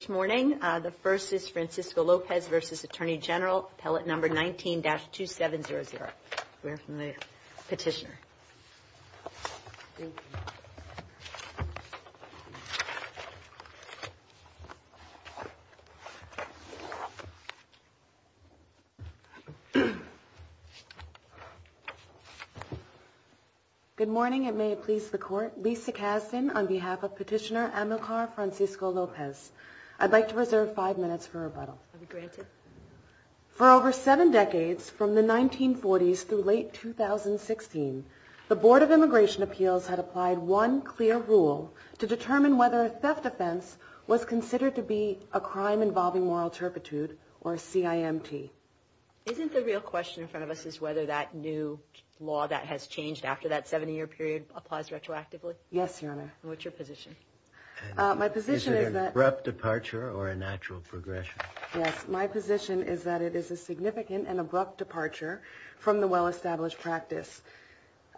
Good morning. The first is Francisco Lopez v. Attorney General, Appellate No. 19-2700. We have the petitioner. Thank you. Good morning. It may please the Court. Lisa Kasdan on behalf of Petitioner Amilcar Francisco Lopez. I'd like to reserve five minutes for rebuttal. For over seven decades, from the 1940s through late 2016, the Board of Immigration Appeals had applied one clear rule to determine whether a theft offense was considered to be a crime involving moral turpitude, or CIMT. Isn't the real question in front of us is whether that new law that has changed after that 70-year period applies retroactively? Yes, Your Honor. And what's your position? My position is that... Is it an abrupt departure or a natural progression? Yes, my position is that it is a significant and abrupt departure from the well-established practice.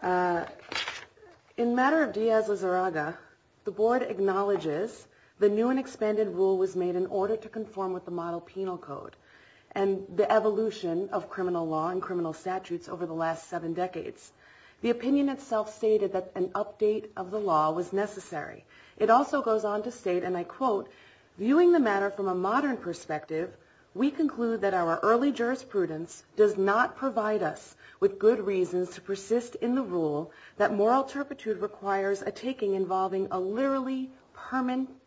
In matter of Diaz-Lizarraga, the Board acknowledges the new and expanded rule was made in order to conform with the model penal code and the evolution of criminal law and criminal statutes over the last seven decades. The opinion itself stated that an update of the law was necessary. It also goes on to state, and I quote, Viewing the matter from a modern perspective, we conclude that our early jurisprudence does not provide us with good reasons to persist in the rule that moral turpitude requires a taking involving a literally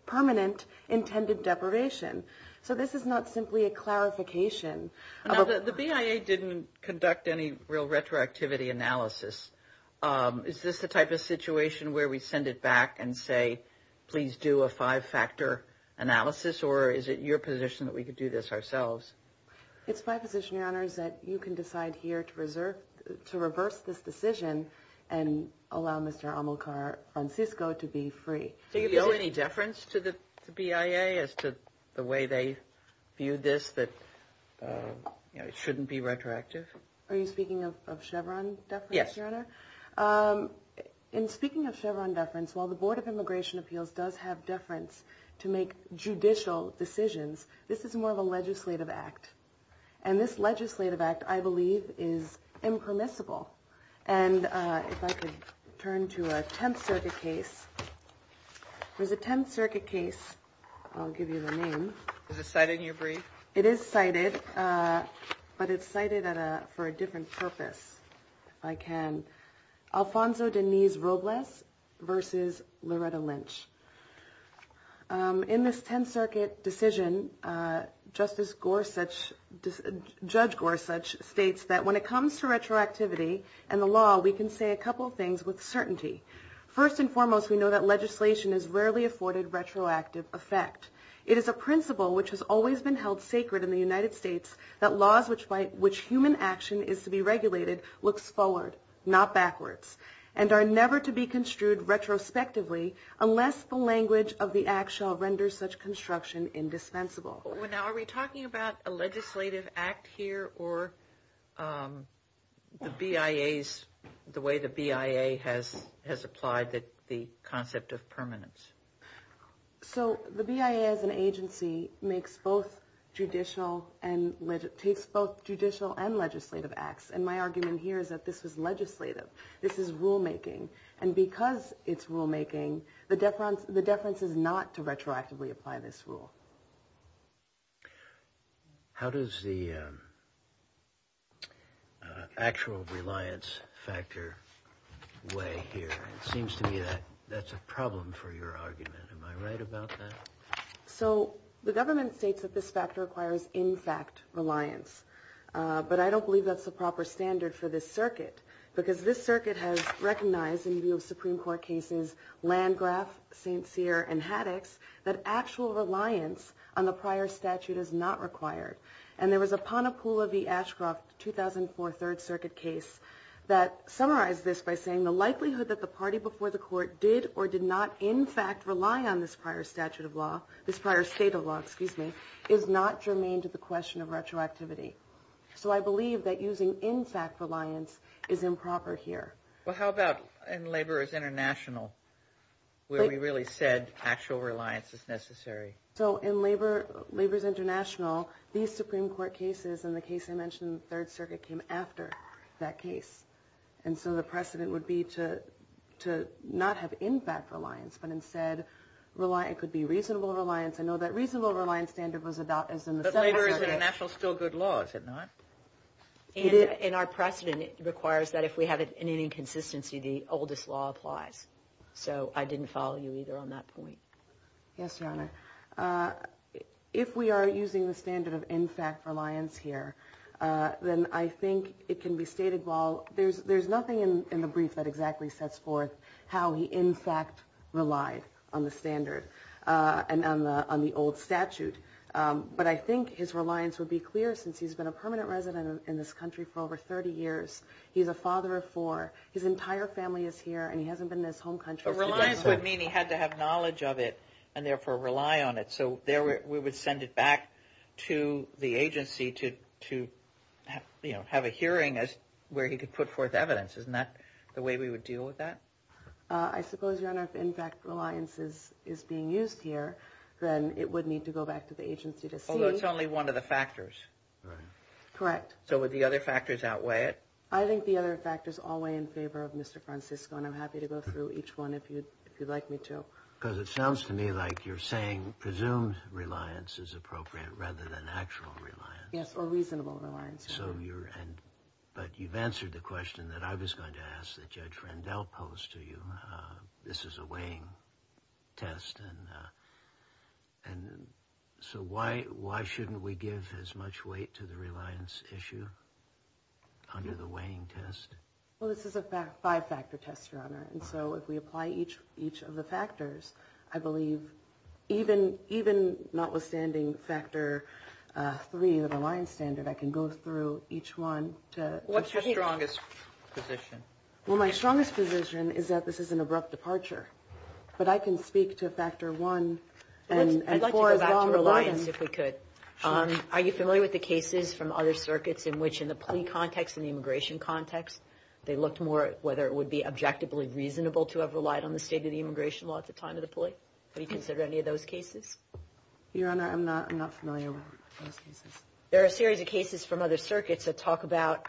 permanent intended deprivation. So this is not simply a clarification. Now, the BIA didn't conduct any real retroactivity analysis. Is this the type of situation where we send it back and say, please do a five-factor analysis, or is it your position that we could do this ourselves? It's my position, Your Honor, is that you can decide here to reverse this decision and allow Mr. Amilcar Francisco to be free. Do you owe any deference to the BIA as to the way they view this that it shouldn't be retroactive? In speaking of Chevron deference, while the Board of Immigration Appeals does have deference to make judicial decisions, this is more of a legislative act. And this legislative act, I believe, is impermissible. And if I could turn to a Tenth Circuit case, there's a Tenth Circuit case. I'll give you the name. Is it cited in your brief? It is cited, but it's cited for a different purpose. If I can. Alfonso Denise Robles v. Loretta Lynch. In this Tenth Circuit decision, Judge Gorsuch states that when it comes to retroactivity and the law, we can say a couple of things with certainty. First and foremost, we know that legislation is rarely afforded retroactive effect. It is a principle which has always been held sacred in the United States, that laws by which human action is to be regulated looks forward, not backwards, and are never to be construed retrospectively unless the language of the act shall render such construction indispensable. Are we talking about a legislative act here or the BIA's, the way the BIA has applied the concept of permanence? So the BIA as an agency takes both judicial and legislative acts. And my argument here is that this is legislative. This is rulemaking. And because it's rulemaking, the deference is not to retroactively apply this rule. How does the actual reliance factor weigh here? It seems to me that that's a problem for your argument. Am I right about that? So the government states that this factor requires, in fact, reliance. But I don't believe that's the proper standard for this circuit, because this circuit has recognized, in view of Supreme Court cases Landgraf, St. Cyr, and Haddix, that actual reliance on the prior statute is not required. And there was a Ponapula v. Ashcroft 2004 Third Circuit case that summarized this by saying the likelihood that the party before the court did or did not, in fact, rely on this prior statute of law, this prior state of law, excuse me, is not germane to the question of retroactivity. So I believe that using, in fact, reliance is improper here. Well, how about in Laborers International, where we really said actual reliance is necessary? So in Laborers International, these Supreme Court cases and the case I mentioned in the Third Circuit came after that case. And so the precedent would be to not have, in fact, reliance, but instead it could be reasonable reliance. I know that reasonable reliance standard was adopted. But Laborers International is still good law, is it not? And our precedent requires that if we have an inconsistency, the oldest law applies. So I didn't follow you either on that point. Yes, Your Honor. If we are using the standard of, in fact, reliance here, then I think it can be stated well. There's nothing in the brief that exactly sets forth how he, in fact, relied on the standard and on the old statute. But I think his reliance would be clear since he's been a permanent resident in this country for over 30 years. He's a father of four. His entire family is here, and he hasn't been in his home country. Reliance would mean he had to have knowledge of it and therefore rely on it. So we would send it back to the agency to have a hearing where he could put forth evidence. Isn't that the way we would deal with that? I suppose, Your Honor, if, in fact, reliance is being used here, then it would need to go back to the agency to see. Although it's only one of the factors. Correct. So would the other factors outweigh it? I think the other factors outweigh in favor of Mr. Francisco, and I'm happy to go through each one if you'd like me to. Because it sounds to me like you're saying presumed reliance is appropriate rather than actual reliance. Yes, or reasonable reliance. But you've answered the question that I was going to ask that Judge Rendell posed to you. This is a weighing test. And so why shouldn't we give as much weight to the reliance issue under the weighing test? Well, this is a five-factor test, Your Honor. And so if we apply each of the factors, I believe even notwithstanding factor three, the reliance standard, I can go through each one. What's your strongest position? Well, my strongest position is that this is an abrupt departure. But I can speak to factor one. I'd like to go back to reliance if we could. Are you familiar with the cases from other circuits in which in the plea context and the immigration context, they looked more at whether it would be objectively reasonable to have relied on the state of the immigration law at the time of the plea? Have you considered any of those cases? Your Honor, I'm not familiar with those cases. There are a series of cases from other circuits that talk about,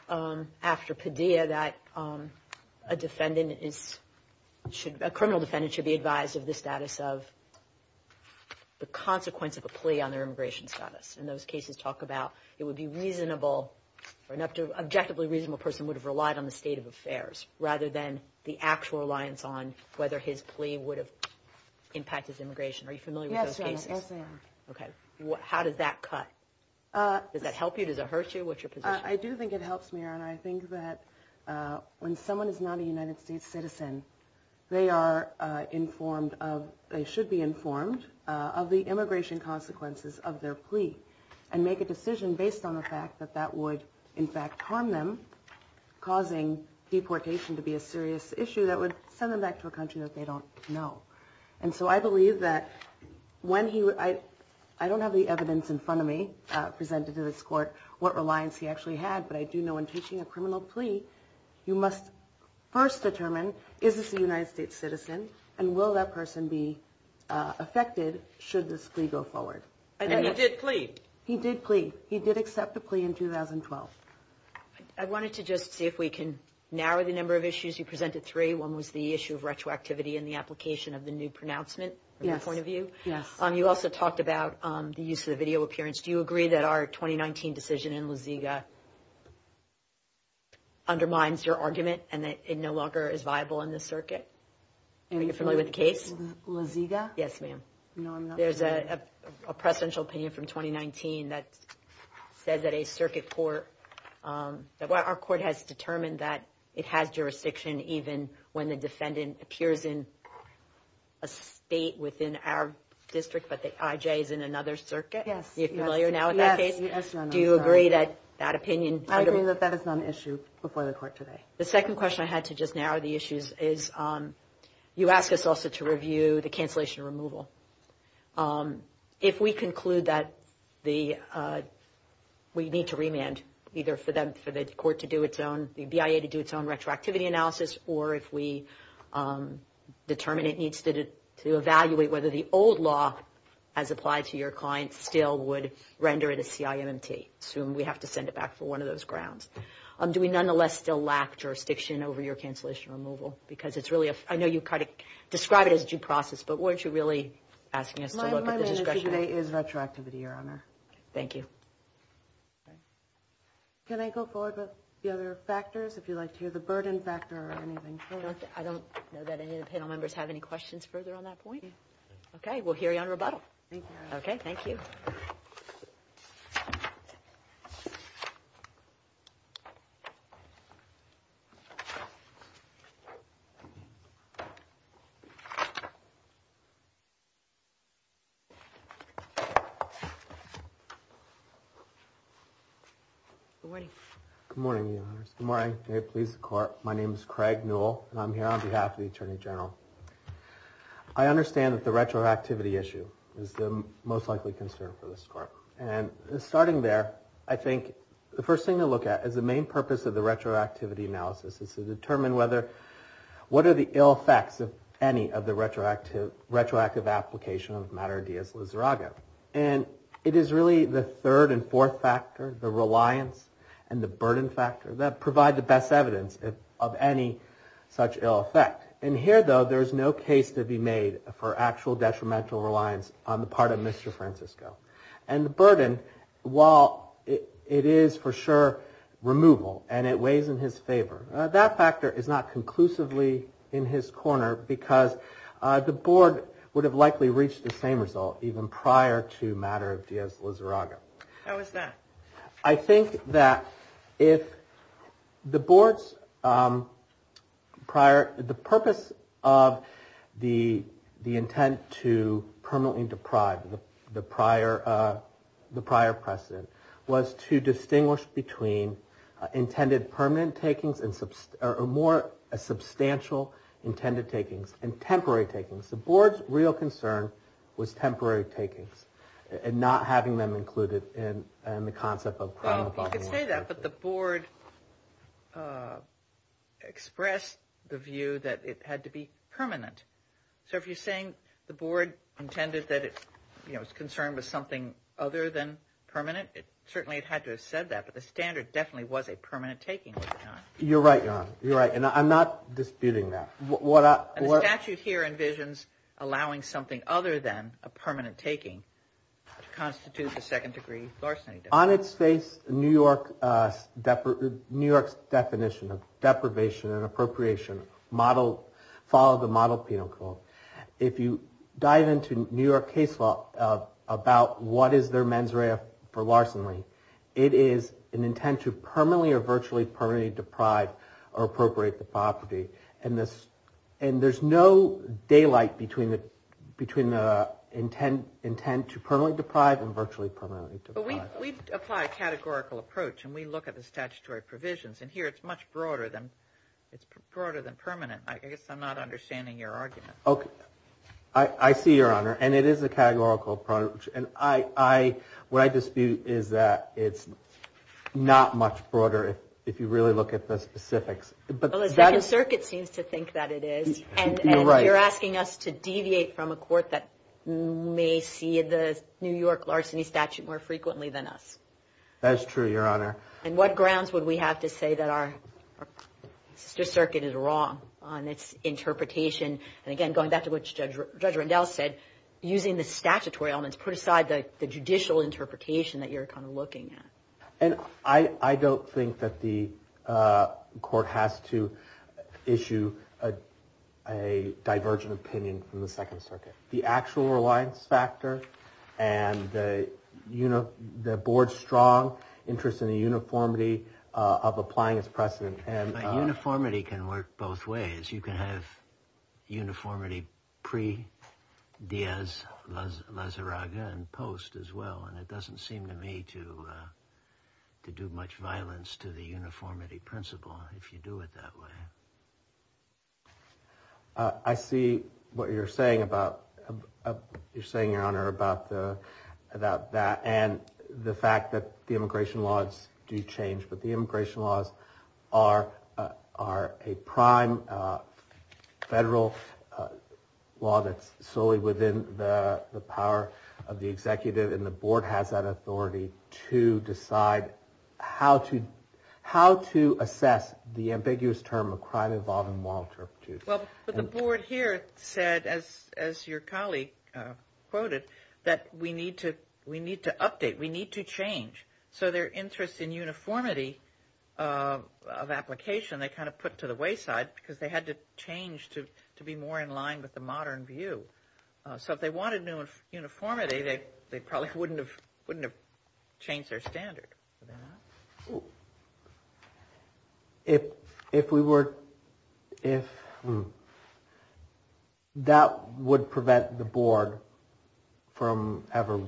after Padilla, that a criminal defendant should be advised of the status of the consequence of a plea on their immigration status. And those cases talk about it would be reasonable or an objectively reasonable person would have relied on the state of affairs rather than the actual reliance on whether his plea would have impacted his immigration. Yes, Your Honor. Yes, I am. Okay. How does that cut? Does that help you? Does it hurt you? What's your position? I do think it helps me, Your Honor. I think that when someone is not a United States citizen, they should be informed of the immigration consequences of their plea and make a decision based on the fact that that would, in fact, harm them, causing deportation to be a serious issue that would send them back to a country that they don't know. And so I believe that when he – I don't have the evidence in front of me presented to this Court what reliance he actually had, but I do know in taking a criminal plea, you must first determine is this a United States citizen and will that person be affected should this plea go forward. And he did plea. He did plea. He did accept a plea in 2012. I wanted to just see if we can narrow the number of issues. You presented three. One was the issue of retroactivity and the application of the new pronouncement from your point of view. Yes. You also talked about the use of the video appearance. Do you agree that our 2019 decision in La Ziga undermines your argument and that it no longer is viable in this circuit? Are you familiar with the case? La Ziga? Yes, ma'am. No, I'm not familiar. There's a presidential opinion from 2019 that said that a circuit court – that it has jurisdiction even when the defendant appears in a state within our district, but the IJ is in another circuit. Yes. Are you familiar now with that case? Yes, ma'am. Do you agree that that opinion – I agree that that is not an issue before the Court today. The second question I had to just narrow the issues is you asked us also to review the cancellation removal. If we conclude that we need to remand either for the court to do its own – the BIA to do its own retroactivity analysis or if we determine it needs to evaluate whether the old law as applied to your client still would render it a CIMT. Assume we have to send it back for one of those grounds. Do we nonetheless still lack jurisdiction over your cancellation removal? Because it's really a – I know you kind of describe it as due process, but weren't you really asking us to look at the discretionary – My message today is retroactivity, Your Honor. Thank you. Can I go forward with the other factors? If you'd like to hear the burden factor or anything further. I don't know that any of the panel members have any questions further on that point. We'll hear you on rebuttal. Thank you, Your Honor. Okay. Thank you. Thank you. Good morning. Good morning, Your Honor. Good morning. May it please the Court. My name is Craig Newell, and I'm here on behalf of the Attorney General. I understand that the retroactivity issue is the most likely concern for this Court. And starting there, I think the first thing to look at is the main purpose of the retroactivity analysis. It's to determine whether – what are the ill effects of any of the retroactive application of Mater deus liserago. And it is really the third and fourth factor, the reliance and the burden factor, that provide the best evidence of any such ill effect. And here, though, there is no case to be made for actual detrimental reliance on the part of Mr. Francisco. And the burden, while it is for sure removal and it weighs in his favor, that factor is not conclusively in his corner because the Board would have likely reached the same result even prior to Mater deus liserago. How is that? I think that if the Board's prior – the purpose of the intent to permanently deprive, the prior precedent, was to distinguish between intended permanent takings and – or more substantial intended takings and temporary takings. The Board's real concern was temporary takings and not having them included in the concept of – Well, you could say that, but the Board expressed the view that it had to be permanent. So if you're saying the Board intended that its concern was something other than permanent, certainly it had to have said that, but the standard definitely was a permanent taking. You're right, Your Honor. You're right. And I'm not disputing that. And the statute here envisions allowing something other than a permanent taking to constitute the second degree larceny. On its face, New York's definition of deprivation and appropriation model – follow the model penal code. If you dive into New York case law about what is their mens rea for larceny, it is an intent to permanently or virtually permanently deprive or appropriate the property. And there's no daylight between the intent to permanently deprive and virtually permanently deprive. But we apply a categorical approach, and we look at the statutory provisions. And here it's much broader than permanent. I guess I'm not understanding your argument. Okay. I see, Your Honor. And it is a categorical approach. And what I dispute is that it's not much broader if you really look at the specifics. Well, the Second Circuit seems to think that it is. You're right. And you're asking us to deviate from a court that may see the New York larceny statute more frequently than us. That is true, Your Honor. And what grounds would we have to say that our Sister Circuit is wrong on its interpretation? And again, going back to what Judge Rendell said, using the statutory elements put aside the judicial interpretation that you're kind of looking at. And I don't think that the court has to issue a divergent opinion from the Second Circuit. The actual reliance factor and the board's strong interest in the uniformity of applying its precedent. But uniformity can work both ways. You can have uniformity pre-Diaz-Lazaraga and post as well. And it doesn't seem to me to do much violence to the uniformity principle if you do it that way. I see what you're saying, Your Honor, about that and the fact that the immigration laws do change. But the immigration laws are a prime federal law that's solely within the power of the executive. And the board has that authority to decide how to assess the ambiguous term of crime involving moral turpitude. Well, but the board here said, as your colleague quoted, that we need to update. We need to change. So their interest in uniformity of application they kind of put to the wayside because they had to change to be more in line with the modern view. So if they wanted uniformity, they probably wouldn't have changed their standard. If we were, if, that would prevent the board from ever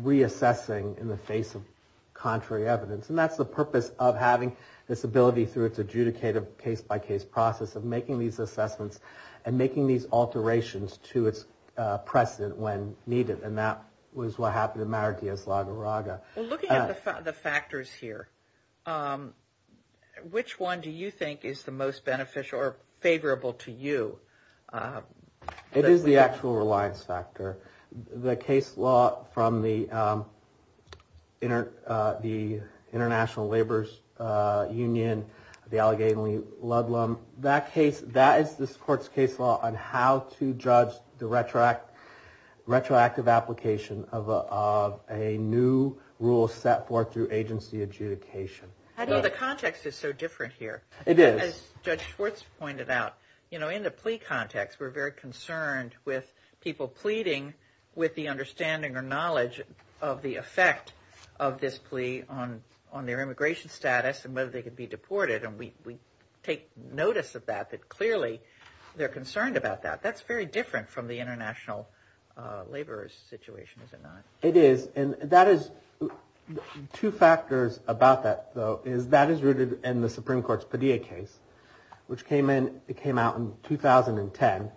reassessing in the face of contrary evidence. And that's the purpose of having this ability through its adjudicative case-by-case process of making these assessments and making these alterations to its precedent when needed. And that was what happened in Mar-a-Diaz-Lazaraga. Well, looking at the factors here, which one do you think is the most beneficial or favorable to you? It is the actual reliance factor. The case law from the International Laborers Union, the Allegheny Ludlum, that case, that is this court's case law on how to judge the retroactive application of a new rule set forth through agency adjudication. The context is so different here. It is. As Judge Schwartz pointed out, you know, in the plea context, we're very concerned with people pleading with the understanding or knowledge of the effect of this plea on their immigration status and whether they could be deported. And we take notice of that, that clearly they're concerned about that. That's very different from the international laborers situation, is it not? It is. And that is – two factors about that, though, is that is rooted in the Supreme Court's Padilla case, which came in – it came out in 2010.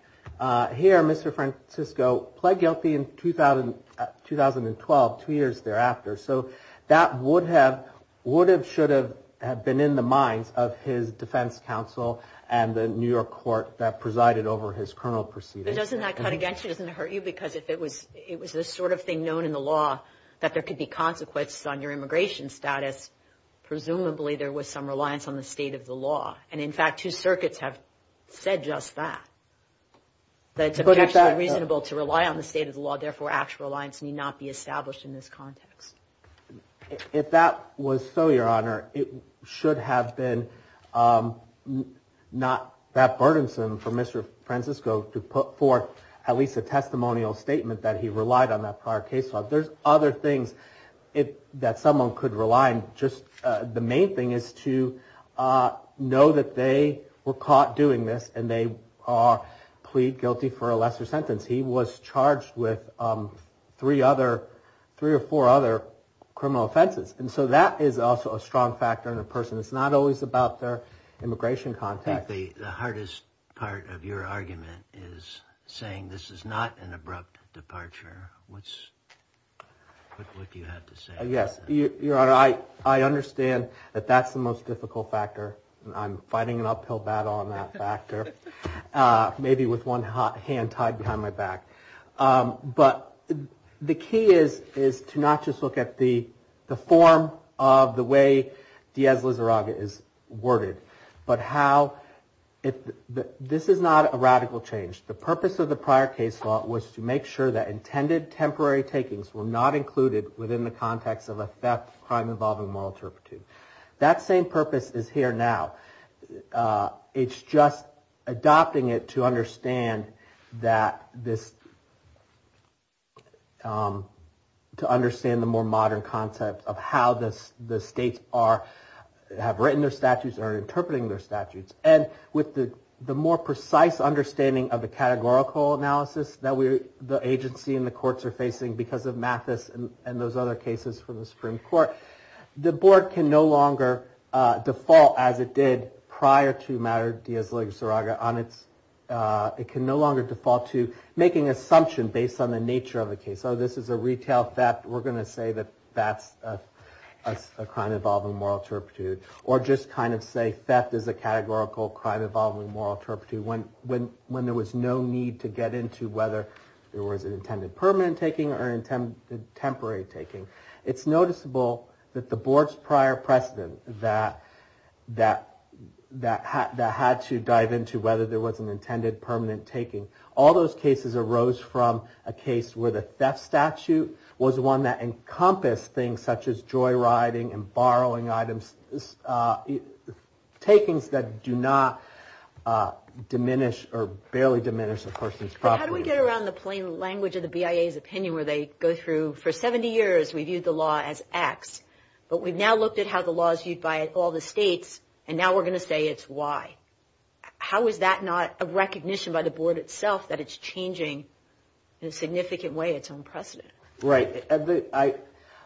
Here, Mr. Francisco pled guilty in 2012, two years thereafter. So that would have – would have, should have been in the minds of his defense counsel and the New York court that presided over his criminal proceedings. But doesn't that cut against you? Doesn't it hurt you? Because if it was this sort of thing known in the law that there could be consequences on your immigration status, presumably there was some reliance on the state of the law. And, in fact, two circuits have said just that, that it's potentially reasonable to rely on the state of the law, therefore actual reliance need not be established in this context. If that was so, Your Honor, it should have been not that burdensome for Mr. Francisco to put forth at least a testimonial statement that he relied on that prior case law. There's other things that someone could rely on. Just the main thing is to know that they were caught doing this and they are plead guilty for a lesser sentence. He was charged with three other – three or four other criminal offenses. And so that is also a strong factor in a person. It's not always about their immigration context. I think the hardest part of your argument is saying this is not an abrupt departure. What's – what do you have to say about that? Yes, Your Honor, I understand that that's the most difficult factor. I'm fighting an uphill battle on that factor. Maybe with one hand tied behind my back. But the key is to not just look at the form of the way Diaz-Lizarraga is worded, but how – this is not a radical change. The purpose of the prior case law was to make sure that intended temporary takings were not included within the context of a theft, crime involving moral turpitude. That same purpose is here now. It's just adopting it to understand that this – to understand the more modern concept of how the states are – have written their statutes or are interpreting their statutes. And with the more precise understanding of the categorical analysis that the agency and the courts are facing because of Mathis and those other cases from the Supreme Court, the board can no longer default, as it did prior to Maduro-Diaz-Lizarraga, on its – it can no longer default to making assumptions based on the nature of the case. Oh, this is a retail theft. We're going to say that that's a crime involving moral turpitude. Or just kind of say theft is a categorical crime involving moral turpitude. When there was no need to get into whether there was an intended permanent taking or an intended temporary taking. It's noticeable that the board's prior precedent that had to dive into whether there was an intended permanent taking. All those cases arose from a case where the theft statute was one that encompassed things such as joyriding and borrowing items – takings that do not diminish or barely diminish a person's property. How do we get around the plain language of the BIA's opinion where they go through – for 70 years we viewed the law as X. But we've now looked at how the law is viewed by all the states, and now we're going to say it's Y. How is that not a recognition by the board itself that it's changing in a significant way its own precedent? Right.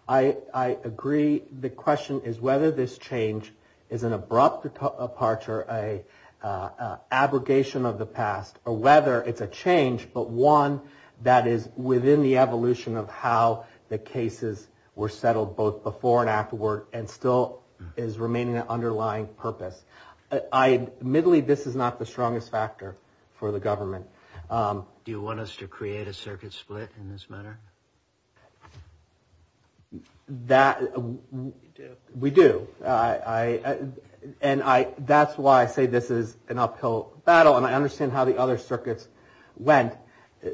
I agree. The question is whether this change is an abrupt departure, an abrogation of the past, or whether it's a change but one that is within the evolution of how the cases were settled both before and afterward and still is remaining an underlying purpose. Admittedly, this is not the strongest factor for the government. Do you want us to create a circuit split in this matter? We do. And that's why I say this is an uphill battle, and I understand how the other circuits went.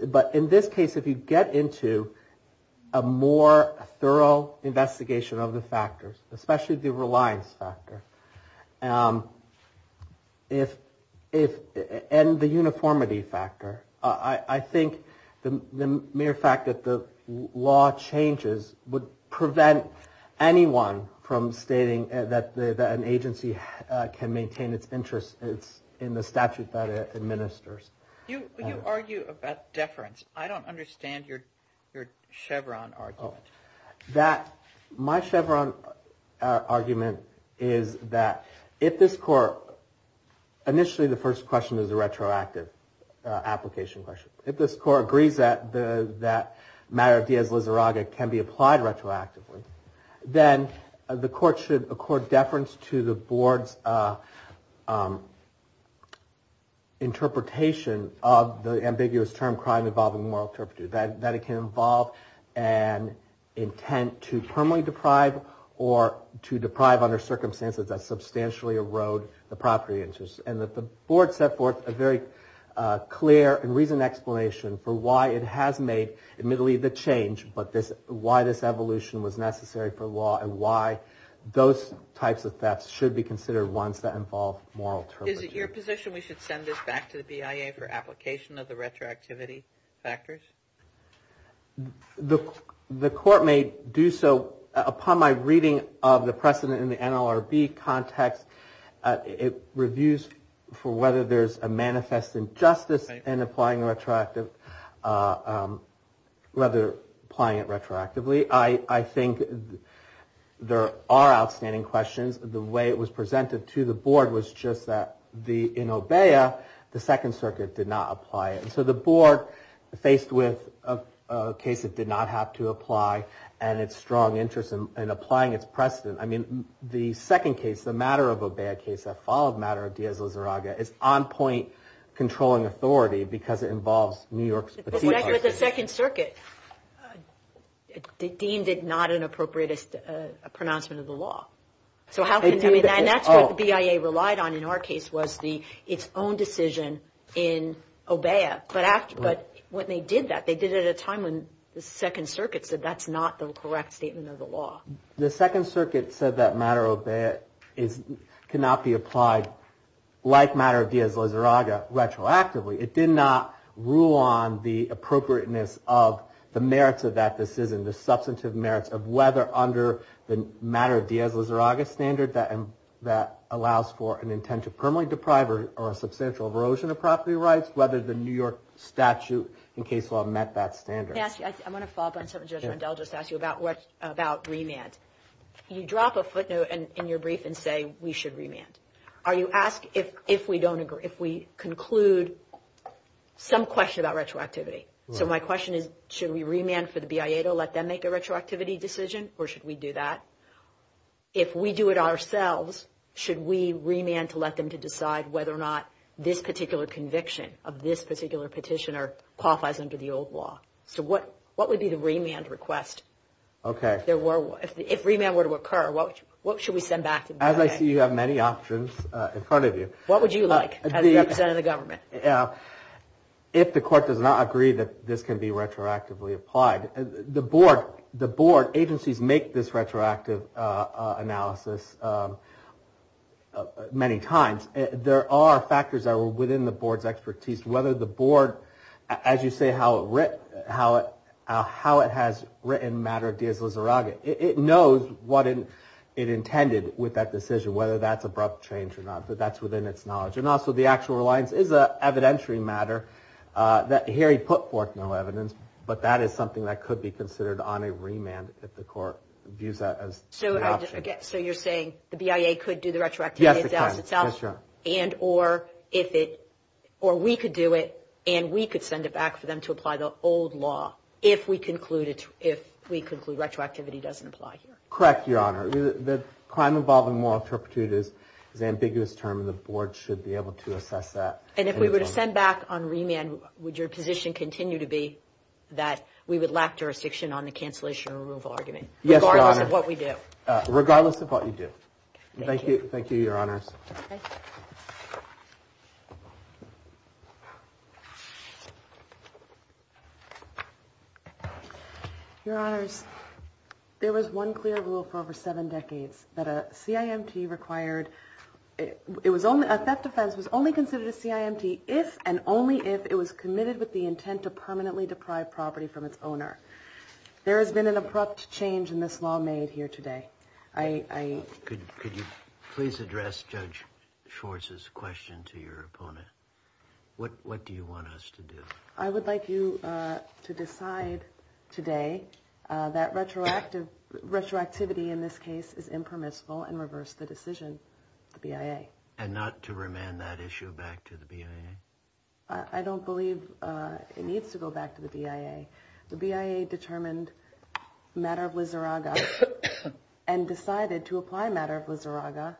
But in this case, if you get into a more thorough investigation of the factors, especially the reliance factor and the uniformity factor, I think the mere fact that the law changes would prevent anyone from stating that an agency can maintain its interests in the statute that it administers. You argue about deference. I don't understand your Chevron argument. My Chevron argument is that if this court... Initially, the first question is a retroactive application question. If this court agrees that the matter of Diaz-Lizarraga can be applied retroactively, then the court should accord deference to the board's interpretation of the ambiguous term crime involving a moral interpreter, that it can involve an intent to permanently deprive or to deprive under circumstances that substantially erode the property interest. And that the board set forth a very clear and reasoned explanation for why it has made, admittedly, the change, but why this evolution was necessary for law and why those types of thefts should be considered ones that involve moral interpreters. Is it your position we should send this back to the BIA for application of the retroactivity factors? The court may do so upon my reading of the precedent in the NLRB context. It reviews for whether there's a manifest injustice in applying retroactively. I think there are outstanding questions. The way it was presented to the board was just that in OBEA, the Second Circuit did not apply it. So the board, faced with a case that did not have to apply and its strong interest in applying its precedent, I mean, the second case, the matter of OBEA case that followed matter of Diaz-Lizarraga, is on point controlling authority because it involves New York's particular... But the Second Circuit deemed it not an appropriate pronouncement of the law. So how can... And that's what the BIA relied on in our case was its own decision in OBEA. But when they did that, they did it at a time when the Second Circuit said that's not the correct statement of the law. The Second Circuit said that matter of OBEA cannot be applied like matter of Diaz-Lizarraga retroactively. It did not rule on the appropriateness of the merits of that decision, the substantive merits of whether under the matter of Diaz-Lizarraga standard that allows for an intent to permanently deprive or a substantial erosion of property rights, whether the New York statute in case law met that standard. I want to follow up on something Judge Rundell just asked you about remand. You drop a footnote in your brief and say we should remand. Are you asking if we conclude some question about retroactivity? So my question is should we remand for the BIA to let them make a retroactivity decision or should we do that? If we do it ourselves, should we remand to let them to decide whether or not this particular conviction of this particular petitioner qualifies under the old law? So what would be the remand request? If remand were to occur, what should we send back to BIA? As I see you have many options in front of you. What would you like as representative of the government? If the court does not agree that this can be retroactively applied, the board agencies make this retroactive analysis many times. There are factors that are within the board's expertise, whether the board, as you say how it has written matter of Diaz-Lizarraga, it knows what it intended with that decision, whether that's abrupt change or not. But that's within its knowledge. And also the actual reliance is an evidentiary matter. Here he put forth no evidence, but that is something that could be considered on a remand if the court views that as an option. So you're saying the BIA could do the retroactivity analysis itself? Yes, it can. Or we could do it and we could send it back for them to apply the old law if we conclude retroactivity doesn't apply here. Correct, Your Honor. The crime involving moral turpitude is an ambiguous term and the board should be able to assess that. And if we were to send back on remand, would your position continue to be that we would lack jurisdiction on the cancellation or removal argument? Yes, Your Honor. Regardless of what we do. Regardless of what you do. Thank you. Thank you, Your Honors. Okay. Your Honors, there was one clear rule for over seven decades that a CIMT required, a theft offense was only considered a CIMT if and only if it was committed with the intent to permanently deprive property from its owner. There has been an abrupt change in this law made here today. Could you please address Judge Schwartz's question to your opponent? What do you want us to do? I would like you to decide today that retroactivity in this case is impermissible and reverse the decision of the BIA. And not to remand that issue back to the BIA? I don't believe it needs to go back to the BIA. The BIA determined matter of liseraga and decided to apply matter of liseraga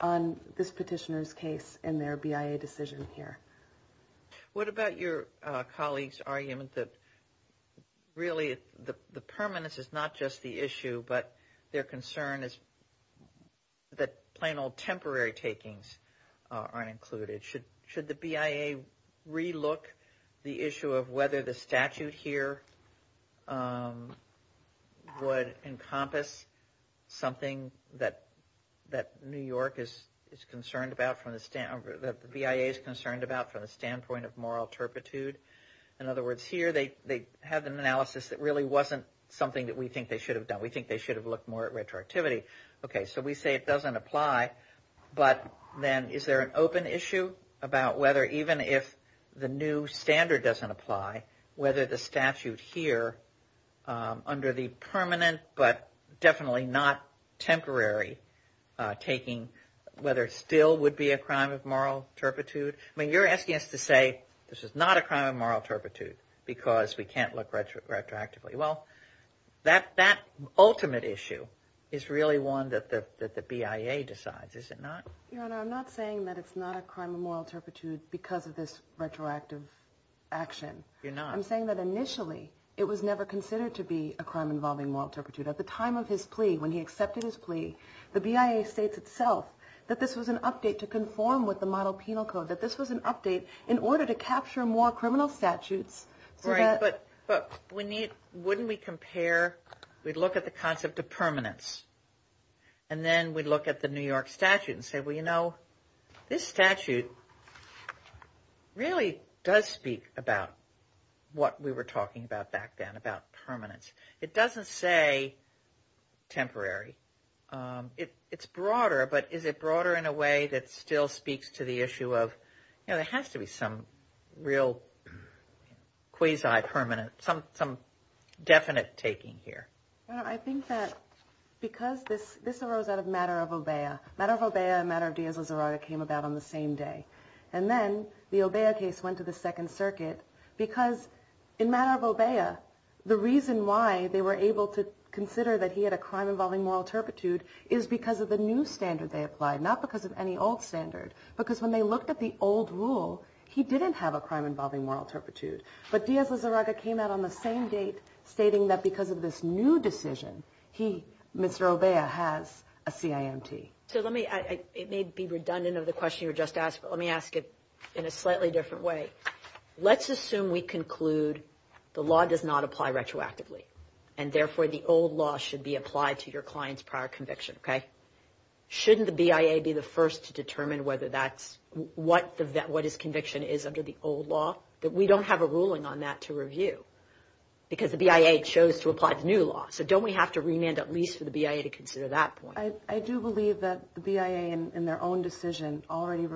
on this petitioner's case in their BIA decision here. What about your colleague's argument that really the permanence is not just the issue, but their concern is that plain old temporary takings aren't included? Should the BIA relook the issue of whether the statute here would encompass something that New York is concerned about, that the BIA is concerned about from the standpoint of moral turpitude? In other words, here they have an analysis that really wasn't something that we think they should have done. We think they should have looked more at retroactivity. Okay, so we say it doesn't apply, but then is there an open issue about whether even if the new standard doesn't apply, whether the statute here under the permanent but definitely not temporary taking, whether it still would be a crime of moral turpitude? I mean, you're asking us to say this is not a crime of moral turpitude because we can't look retroactively. Well, that ultimate issue is really one that the BIA decides, is it not? Your Honor, I'm not saying that it's not a crime of moral turpitude because of this retroactive action. You're not. I'm saying that initially it was never considered to be a crime involving moral turpitude. At the time of his plea, when he accepted his plea, the BIA states itself that this was an update to conform with the model penal code, that this was an update in order to capture more criminal statutes. Right, but wouldn't we compare, we'd look at the concept of permanence and then we'd look at the New York statute and say, well, you know, this statute really does speak about what we were talking about back then, about permanence. It doesn't say temporary. It's broader, but is it broader in a way that still speaks to the issue of, you know, there has to be some real quasi-permanent, some definite taking here. Your Honor, I think that because this arose out of matter of Obeah. Matter of Obeah and matter of Diaz-Lizarraga came about on the same day. And then the Obeah case went to the Second Circuit because in matter of Obeah, the reason why they were able to consider that he had a crime involving moral turpitude is because of the new standard they applied, not because of any old standard. Because when they looked at the old rule, he didn't have a crime involving moral turpitude. But Diaz-Lizarraga came out on the same date stating that because of this new decision, he, Mr. Obeah, has a CIMT. So let me, it may be redundant of the question you just asked, but let me ask it in a slightly different way. Let's assume we conclude the law does not apply retroactively, and therefore the old law should be applied to your client's prior conviction, okay? Shouldn't the BIA be the first to determine whether that's, what his conviction is under the old law? We don't have a ruling on that to review because the BIA chose to apply the new law. So don't we have to remand at least for the BIA to consider that point? I do believe that the BIA in their own decision already,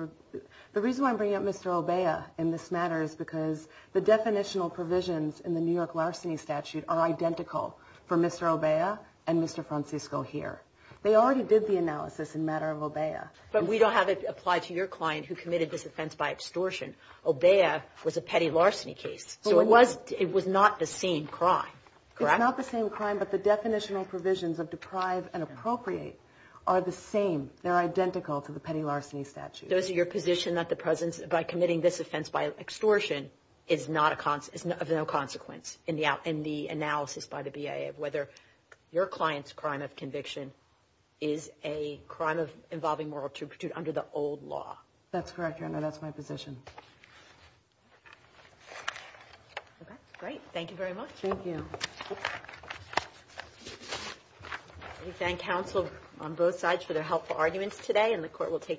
the reason why I'm bringing up Mr. Obeah in this matter is because the definitional provisions in the New York larceny statute are identical for Mr. Obeah and Mr. Francisco here. They already did the analysis in matter of Obeah. But we don't have it applied to your client who committed this offense by extortion. Obeah was a petty larceny case, so it was not the same crime, correct? It's not the same crime, but the definitional provisions of deprive and appropriate are the same. They're identical to the petty larceny statute. Those are your position that the President, by committing this offense by extortion, is of no consequence in the analysis by the BIA of whether your client's crime of conviction is a crime involving moral turpitude under the old law? That's correct, Your Honor. That's my position. Okay, great. Thank you very much. Thank you. We thank counsel on both sides for their helpful arguments today, and the court will take them.